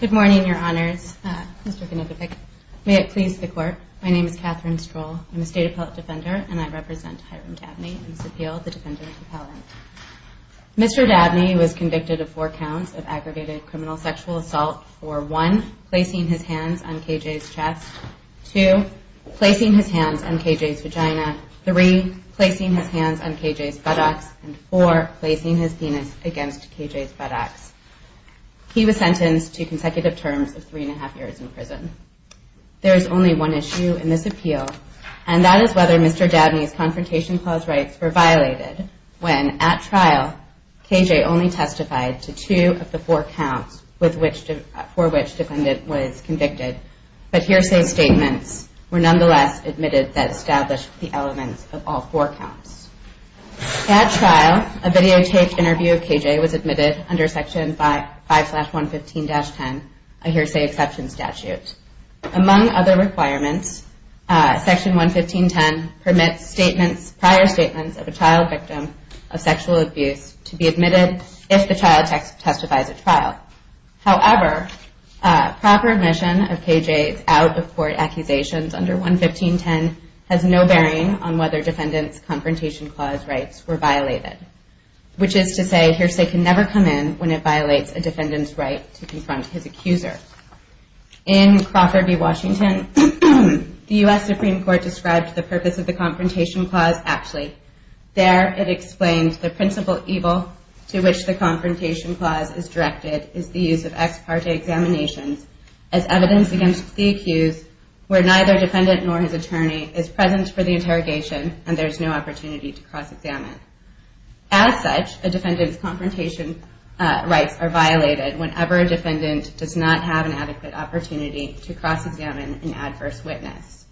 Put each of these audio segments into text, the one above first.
Good morning, Your Honors. May it please the Court, my name is Catherine Stroll. I'm here and I represent Hiram Dabney in this appeal. Mr. Dabney was convicted of four counts of aggravated criminal sexual assault for one, placing his hands on K.J.'s chest, two, placing his hands on K.J.'s vagina, three, placing his hands on K.J.'s buttocks, and four, placing his penis against K.J.'s buttocks. He was sentenced to consecutive terms of three and that is whether Mr. Dabney's Confrontation Clause rights were violated when, at trial, K.J. only testified to two of the four counts for which the defendant was convicted, but hearsay statements were nonetheless admitted that established the elements of all four counts. At trial, a videotaped interview of K.J. was admitted under Section 5-115-10, a hearsay exception statute. Among other requirements, Section 115-10 permits prior statements of a child victim of sexual abuse to be admitted if the child testifies at trial. However, proper admission of K.J.'s out-of-court accusations under 115-10 has no bearing on whether defendant's Confrontation Clause rights were violated, which is to say hearsay can In Crawford v. Washington, the U.S. Supreme Court described the purpose of the Confrontation Clause aptly. There, it explains the principal evil to which the Confrontation Clause is directed is the use of ex parte examinations as evidence against the accused where neither defendant nor his attorney is present for the interrogation and there is no opportunity to cross-examine. As such, a defendant's Confrontation Rights are violated whenever a defendant does not have an adequate opportunity to cross-examine an adverse witness.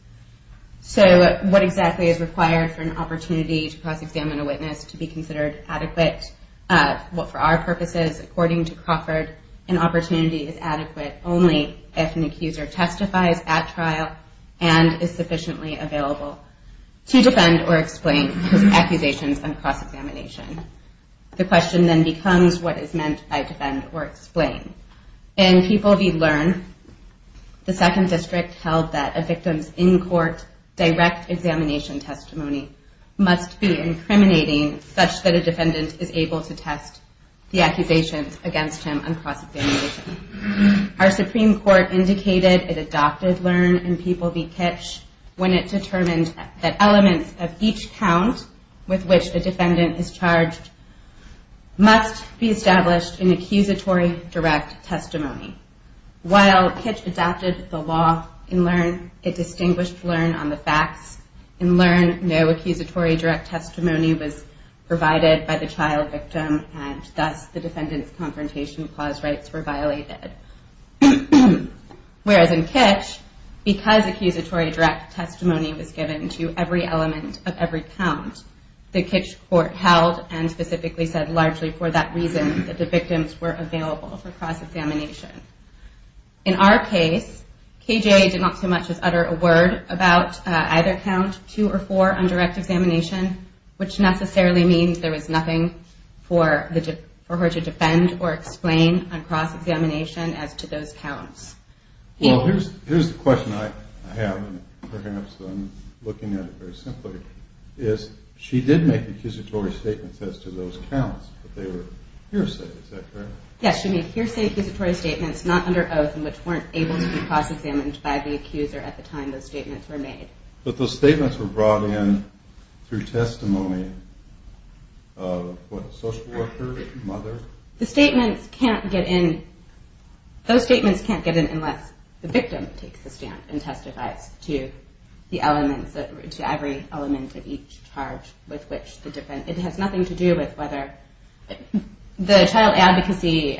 So what exactly is required for an opportunity to cross-examine a witness to be considered adequate? Well, for our purposes, according to Crawford, an opportunity is adequate only if an accuser testifies at trial and is sufficiently available to defend or explain his accusations on cross-examination. The question then becomes what is meant by defend or explain. In People v. Learn, the Second District held that a victim's in-court direct examination testimony must be incriminating such that a defendant is able to test the accusations against him on cross-examination. Our Supreme Court indicated it adopted Learn and People v. Kitch when it determined that elements of each count with which the defendant is charged must be established in accusatory direct testimony. While Kitch adopted the law in Learn, it distinguished Learn on the facts. In Learn, no accusatory direct testimony was provided by the trial victim and thus the defendant's Confrontation Clause rights were violated. Whereas in Kitch, because accusatory direct testimony was given to every element of every count, the Kitch Court held and specifically said largely for that reason that the victims were available for cross-examination. In our case, KJ did not so much as utter a word about either count 2 or 4 on direct examination, which necessarily means there was nothing for her to defend or explain on cross-examination as to those counts. Well, here's the question I have, and perhaps I'm looking at it very simply, is she did make accusatory statements as to those counts, but they were hearsay, is that correct? Yes, she made hearsay accusatory statements not under oath and which weren't able to be cross-examined by the accuser at the time those statements were made. But those statements were brought in through testimony of what, a social worker, a mother? The statements can't get in, those statements can't get in unless the victim takes the stand and testifies to the elements, to every element of each charge with which the defendant, it has nothing to do with whether the child advocacy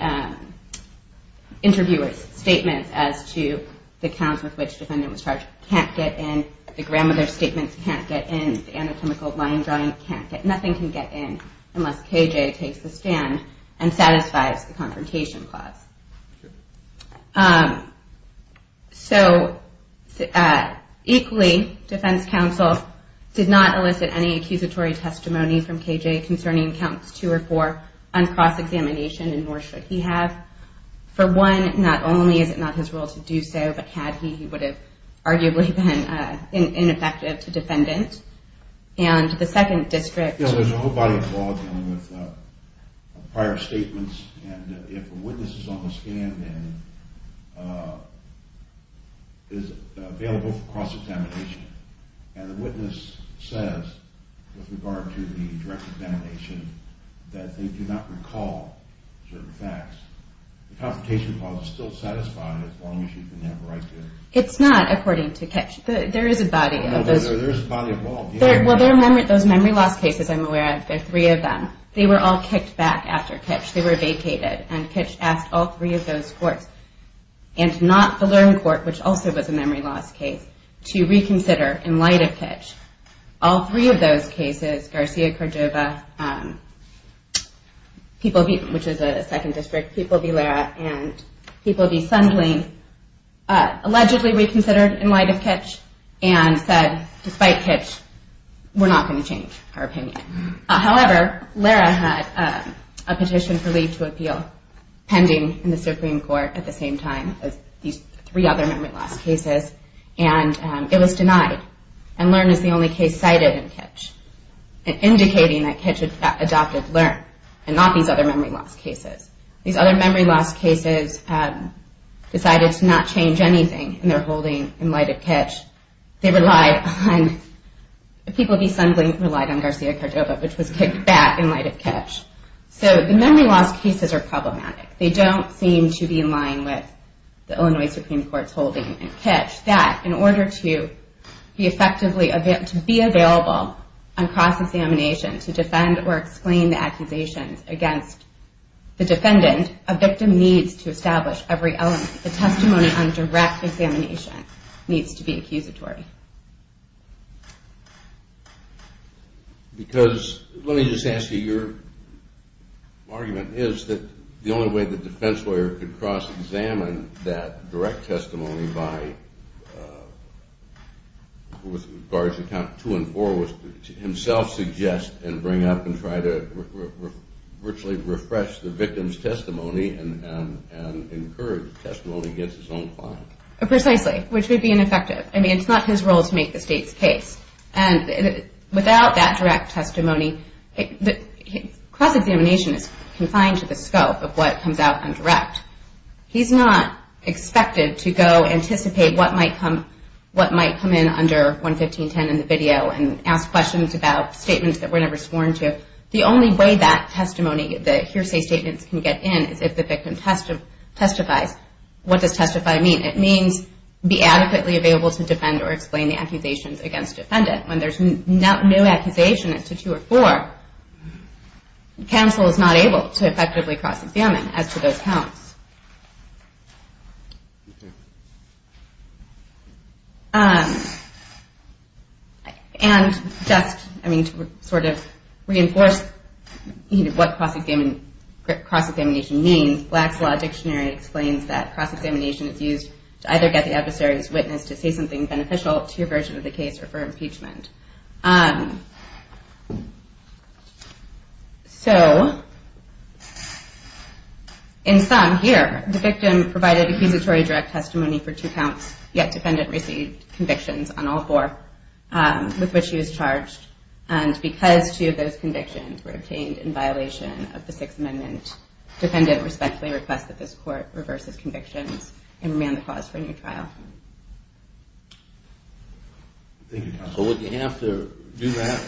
interviewer's statements as to the counts with which the defendant was charged can't get in, the grandmother's statements can't get in, the anatomical line drawing can't get, nothing can get in unless KJ takes the stand and satisfies the confrontation clause. So, equally, defense counsel did not elicit any accusatory testimony from KJ concerning counts two or four on cross-examination, and nor should he have. For one, not only is it not his role to do so, but had he, he would have arguably been ineffective to defendant. There's a whole body of law dealing with prior statements, and if a witness is on the stand and is available for cross-examination, and the witness says, with regard to the direct examination, that they do not recall certain facts, the confrontation clause is still satisfied as long as you can have a right to... It's not, according to Kitch. There is a body of law. Well, those memory loss cases, I'm aware of, there are three of them. They were all kicked back after Kitch. They were vacated, and Kitch asked all three of those courts, and not the Learne court, which also was a memory loss case, to reconsider in light of Kitch. All three of those cases, Garcia-Cordova, which is a second district, People v. Lara, and People v. Sundling, allegedly reconsidered in light of Kitch, and said, despite Kitch, we're not going to change our opinion. However, Lara had a petition for leave to appeal pending in the Supreme Court at the same time as these three other memory loss cases, and it was denied, and Learne is the only case cited in Kitch, indicating that Kitch had adopted Learne, and not these other memory loss cases. These other memory loss cases decided to not change anything in their holding in light of Kitch. They relied on, People v. Sundling relied on Garcia-Cordova, which was kicked back in light of Kitch. So the memory loss cases are problematic. They don't seem to be in line with the Illinois Supreme Court's holding in Kitch. That, in order to be effectively, to be available on cross-examination to defend or explain the accusations against the defendant, a victim needs to establish every element. The testimony on direct examination needs to be accusatory. Because, let me just ask you, your argument is that the only way the defense lawyer could cross-examine that direct testimony by, with regards to count two and four, was to himself suggest and bring up and try to virtually refresh the victim's testimony and encourage testimony against his own client. Precisely. Which would be ineffective. I mean, it's not his role to make the state's case. And without that direct testimony, cross-examination is confined to the scope of what comes out on direct. He's not expected to go anticipate what might come in under 115.10 in the video and ask questions about statements that were never sworn to. The only way that testimony, the hearsay statements, can get in is if the victim testifies. What does testify mean? It means be adequately available to defend or explain the accusations against the defendant. When there's no accusation to two or four, counsel is not able to effectively cross-examine as to those counts. And just, I mean, to sort of reinforce what cross-examination means, Black's Law Dictionary explains that cross-examination is used to either get the adversary's witness to say something beneficial to your version of the case or for impeachment. So, in sum, here, the victim provided accusatory direct testimony for two counts, yet defendant received convictions on all four with which she was charged. And because two of those convictions were obtained in violation of the Sixth Amendment, defendant respectfully requests that this court reverse its convictions and remand the clause for a new trial. Thank you, counsel. Would you have to do that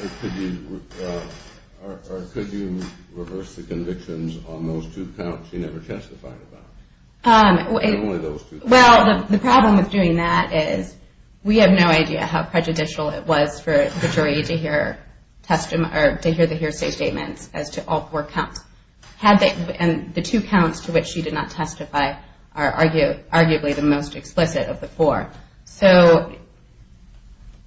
or could you reverse the convictions on those two counts she never testified about? Well, the problem with doing that is we have no idea how prejudicial it was for the jury to hear the hearsay statements as to all four counts. And the two counts to which she did not testify are arguably the most explicit of the four. So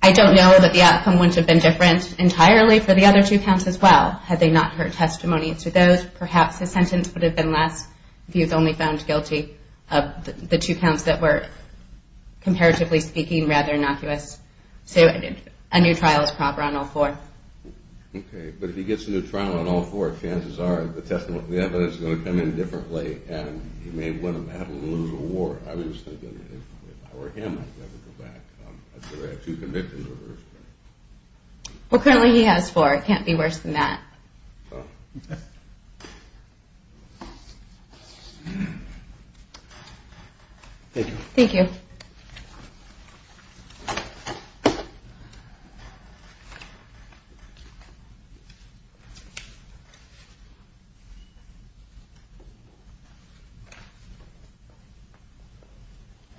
I don't know that the outcome wouldn't have been different entirely for the other two counts as well had they not heard testimony to those. Perhaps the sentence would have been less if you had only found guilty of the two counts that were, comparatively speaking, rather innocuous. So a new trial is proper on all four. Okay. But if he gets a new trial on all four, chances are the evidence is going to come in differently and he may win a battle and lose a war. I was thinking if I were him, I'd never go back. I'd say I had two convictions reversed. Well, currently he has four. Thank you. Thank you.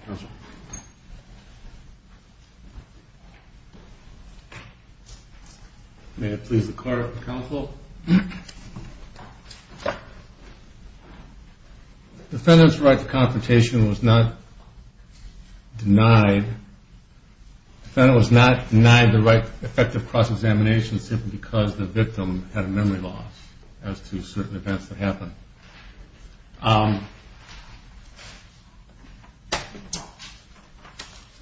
Counsel. Counsel. May it please the Court of Counsel. Defendant's right to confrontation was not denied. Defendant was not denied the right effective cross-examination simply because the victim had a memory loss as to certain events that happened.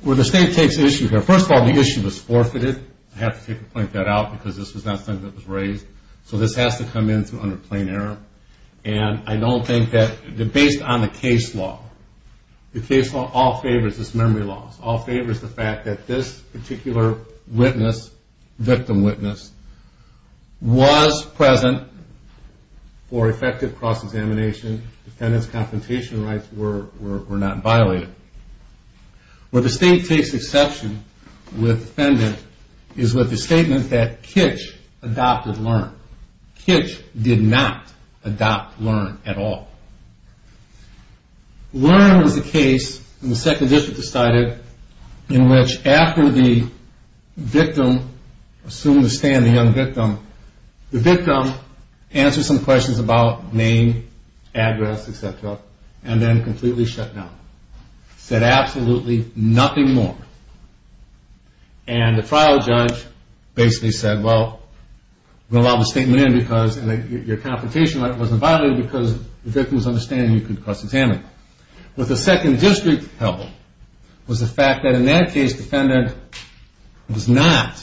Well, the State takes issue here. First of all, the issue was forfeited. I have to take a point that out because this was not something that was raised. So this has to come in under plain error. And I don't think that, based on the case law, the case law all favors this memory loss. All favors the fact that this particular witness, victim witness, was present for effective cross-examination. Defendant's confrontation rights were not violated. Where the State takes exception with defendant is with the statement that Kitch adopted Learn. Kitch did not adopt Learn at all. Learn was the case in the Second District decided in which after the victim assumed the stand, the young victim, the victim answered some questions about name, address, et cetera, and then completely shut down. Said absolutely nothing more. And the trial judge basically said, well, we'll allow the statement in because your confrontation right wasn't violated because the victim's understanding you could cross-examine. What the Second District held was the fact that in that case, defendant was not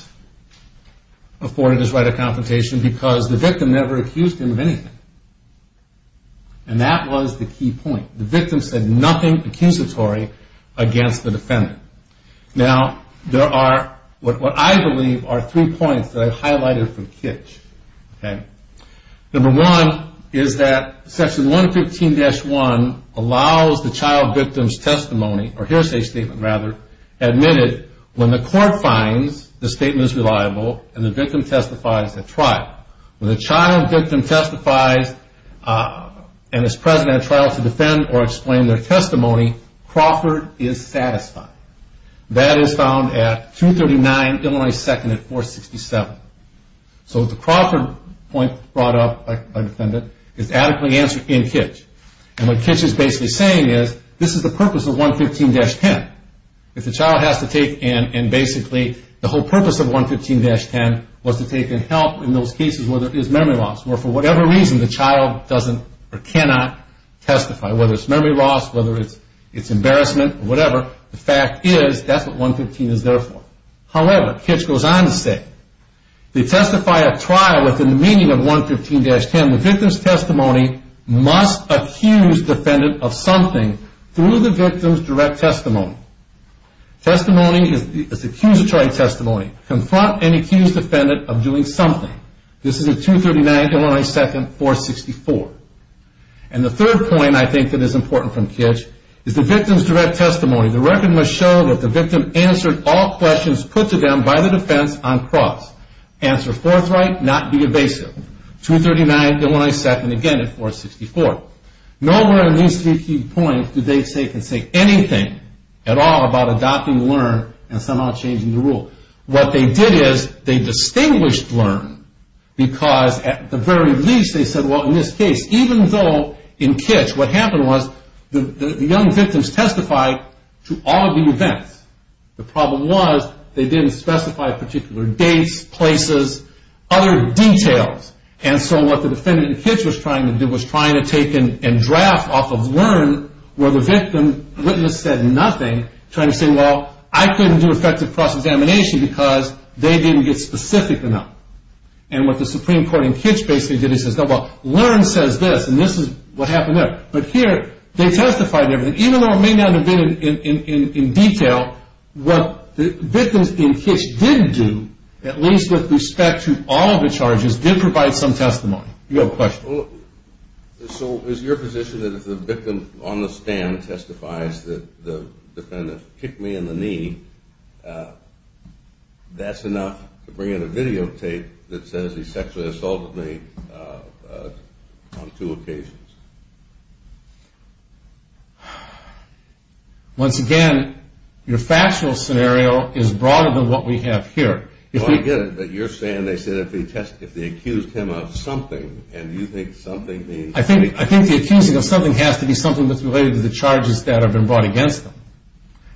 afforded his right of confrontation because the victim never accused him of anything. And that was the key point. The victim said nothing accusatory against the defendant. Now, there are what I believe are three points that I've highlighted from Kitch. Number one is that Section 115-1 allows the child victim's testimony, or hearsay statement rather, admitted when the court finds the statement is reliable and the victim testifies at trial. When the child victim testifies and is present at trial to defend or explain their testimony, Crawford is satisfied. That is found at 239 Illinois 2nd and 467. So the Crawford point brought up by defendant is adequately answered in Kitch. And what Kitch is basically saying is this is the purpose of 115-10. If the child has to take in and basically the whole purpose of 115-10 was to take in help in those cases where there is memory loss, where for whatever reason the child doesn't or cannot testify, whether it's memory loss, whether it's embarrassment, whatever, the fact is that's what 115 is there for. However, Kitch goes on to say, they testify at trial within the meaning of 115-10. The victim's testimony must accuse defendant of something through the victim's direct testimony. Testimony is accusatory testimony. Confront and accuse defendant of doing something. This is at 239 Illinois 2nd, 464. And the third point I think that is important from Kitch is the victim's direct testimony. The record must show that the victim answered all questions put to them by the defense on cross. Answer forthright, not be evasive. 239 Illinois 2nd, again at 464. Nowhere in these three key points do they say anything at all about adopting LEARN and somehow changing the rule. What they did is they distinguished LEARN because at the very least they said, well, in this case, even though in Kitch what happened was the young victims testified to all the events. The problem was they didn't specify particular dates, places, other details. And so what the defendant in Kitch was trying to do was trying to take and draft off of LEARN where the victim witness said nothing, trying to say, well, I couldn't do effective cross-examination because they didn't get specific enough. And what the Supreme Court in Kitch basically did is says, well, LEARN says this and this is what happened there. But here they testified to everything. Even though it may not have been in detail, what the victims in Kitch did do, at least with respect to all of the charges, did provide some testimony. You have a question? So is your position that if the victim on the stand testifies that the defendant kicked me in the knee, that's enough to bring in a videotape that says he sexually assaulted me on two occasions? Once again, your factual scenario is broader than what we have here. I get it, but you're saying they said if they accused him of something, and you think something means... I think the accusing of something has to be something that's related to the charges that have been brought against them.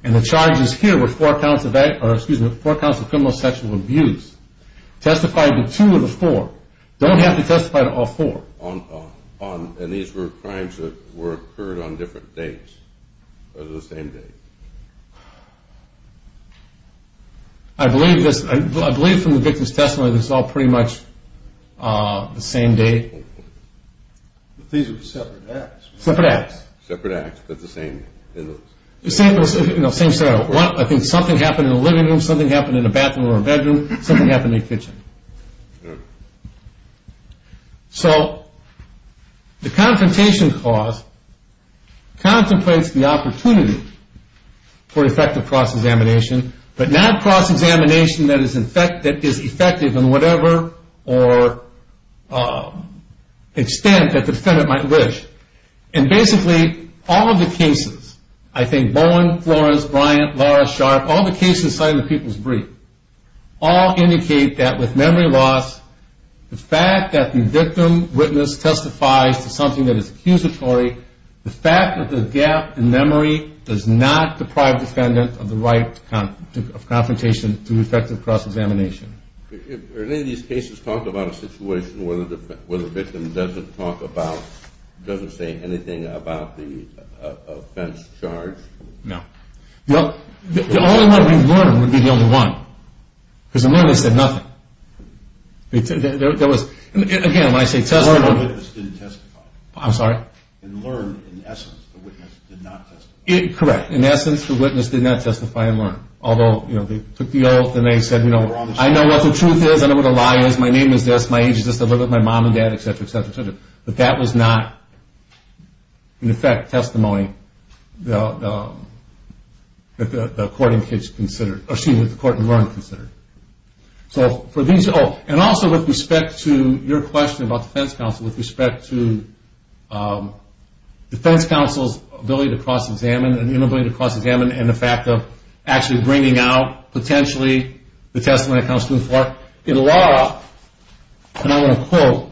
And the charges here were four counts of criminal sexual abuse. Testify to two of the four. You don't have to testify to all four. And these were crimes that occurred on different dates, or the same date? I believe from the victim's testimony that it's all pretty much the same date. But these were separate acts. Separate acts. Separate acts, but the same... Same scenario. I think something happened in the living room, something happened in the bathroom or bedroom, something happened in the kitchen. So the confrontation clause contemplates the opportunity for effective cross-examination, but not cross-examination that is effective in whatever extent that the defendant might wish. And basically, all of the cases, I think Bowen, Florence, Bryant, Lara, Sharp, all the cases cited in the People's Brief, all indicate that with memory loss, the fact that the victim witness testifies to something that is accusatory, the fact that the gap in memory does not deprive the defendant of the right of confrontation through effective cross-examination. Have any of these cases talked about a situation where the victim doesn't talk about, doesn't say anything about the offense charged? No. The only one we learned would be the only one. Because the witness said nothing. Again, when I say testimony... The witness didn't testify. I'm sorry? In learn, in essence, the witness did not testify. Correct. In essence, the witness did not testify in learn. Although, you know, they took the oath and they said, you know, I know what the truth is. I know what a lie is. My name is this. My age is this. I live with my mom and dad, etc., etc., etc. But that was not, in effect, testimony that the court in learn considered. So for these... Oh, and also with respect to your question about defense counsel, with respect to defense counsel's ability to cross-examine and inability to cross-examine and the fact of actually bringing out potentially the testimony that comes to the floor, in law, and I want to quote,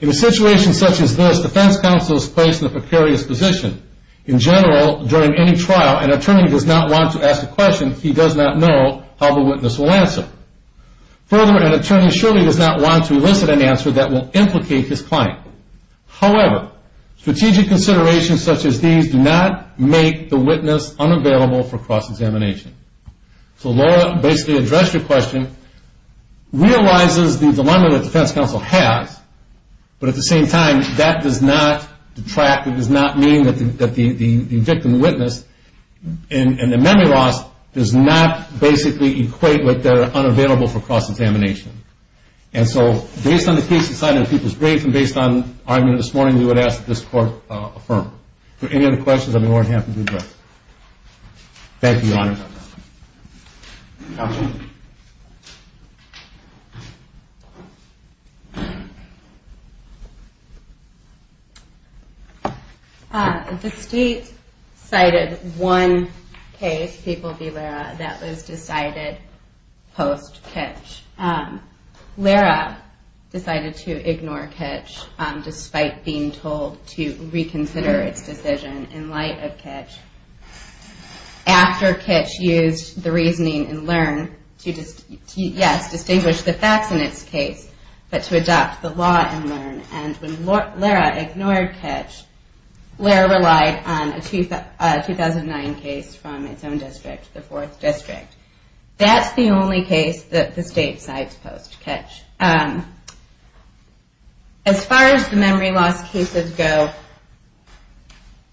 in a situation such as this, defense counsel is placed in a precarious position. In general, during any trial, an attorney does not want to ask a question he does not know how the witness will answer. Further, an attorney surely does not want to elicit an answer that will implicate his client. However, strategic considerations such as these do not make the witness unavailable for cross-examination. So law basically addressed your question, realizes the dilemma that defense counsel has, but at the same time that does not detract, it does not mean that the victim witness and the memory loss does not basically equate with their unavailability for cross-examination. And so, based on the case decided in People's Graves and based on the argument this morning, we would ask that this court affirm. If there are any other questions, I may want to have them addressed. The state cited one case, People v. Lera, that was decided post-Kitsch. Lera decided to ignore Kitsch despite being told to reconsider its decision in light of Kitsch. After Kitsch used the reasoning in LEARN to, yes, distinguish the facts in its case, but to adopt the law in LEARN. And when Lera ignored Kitsch, Lera relied on a 2009 case from its own district, the 4th District. That's the only case that the state cites post-Kitsch. As far as the memory loss cases go,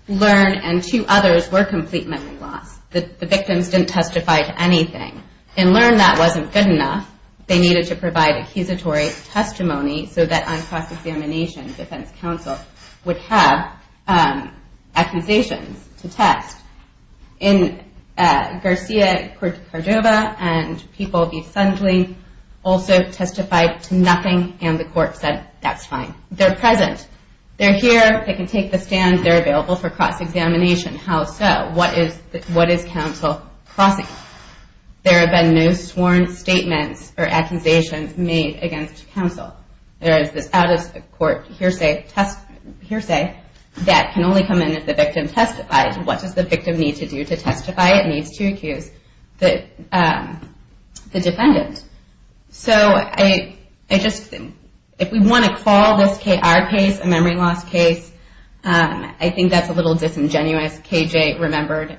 LEARN and two others were complete memory loss. The victims didn't testify to anything. In LEARN, that wasn't good enough. They needed to provide accusatory testimony so that on cross-examination, defense counsel would have accusations to test. In Garcia v. Cordova, people v. Sundley also testified to nothing and the court said that's fine. They're present. They're here. They can take the stand. They're available for cross-examination. How so? What is counsel crossing? There have been no sworn statements or accusations made against counsel. There is this out-of-court hearsay that can only come in if the victim testified. What does the victim need to do to testify? It needs to accuse the defendant. So if we want to call this K.R. case a memory loss case, I think that's a little disingenuous. K.J. remembered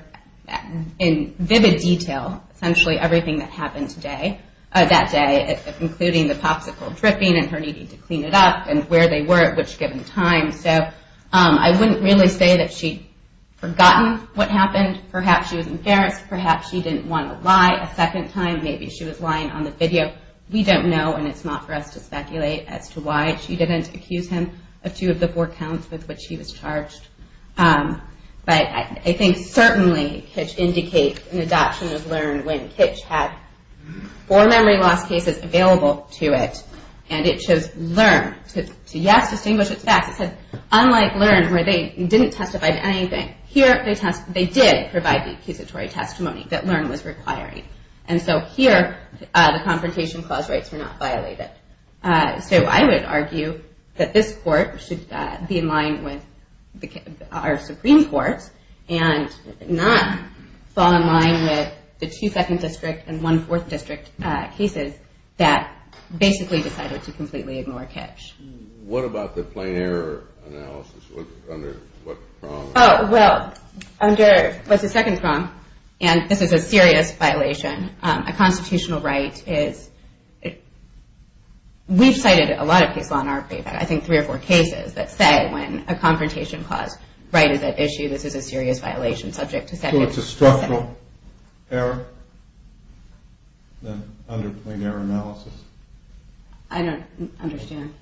in vivid detail essentially everything that happened that day, including the popsicle dripping and her needing to clean it up and where they were at which given time. So I wouldn't really say that she'd forgotten what happened. Perhaps she was embarrassed. Perhaps she didn't want to lie a second time. Maybe she was lying on the video. We don't know and it's not for us to speculate as to why she didn't accuse him of two of the four counts with which he was charged. But I think certainly K.J. indicates an adoption of LEARN when K.J. had four memory loss cases available to it and it chose LEARN. To yes, distinguish it's facts. Unlike LEARN where they didn't testify to anything, here they did provide the accusatory testimony that LEARN was requiring. And so here the Confrontation Clause rights were not violated. So I would argue that this court should be in line with our Supreme Court and not fall in line with the 2 2nd District and 1 4th District cases that basically decided to completely ignore K.J. What about the plain error analysis? Under what prong? Oh, well, under, what's the 2nd prong? And this is a serious violation. A constitutional right is, we've cited a lot of case law in our paper. I think three or four cases that say when a Confrontation Clause right is at issue this is a serious violation subject to 2nd. So it's a structural error under plain error analysis? I don't understand.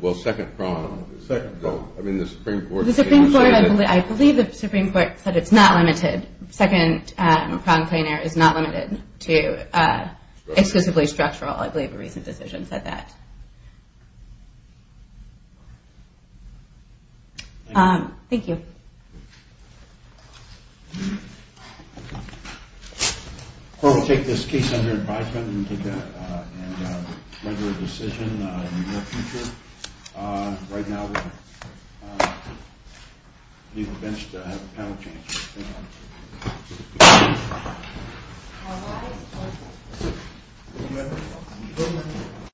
Well, 2nd prong, I mean the Supreme Court. The Supreme Court, I believe the Supreme Court said it's not limited. 2nd prong plain error is not limited to exclusively structural. I believe a recent decision said that. Thank you. The court will take this case under advisement and render a decision in the near future. Right now we need the bench to have a panel change.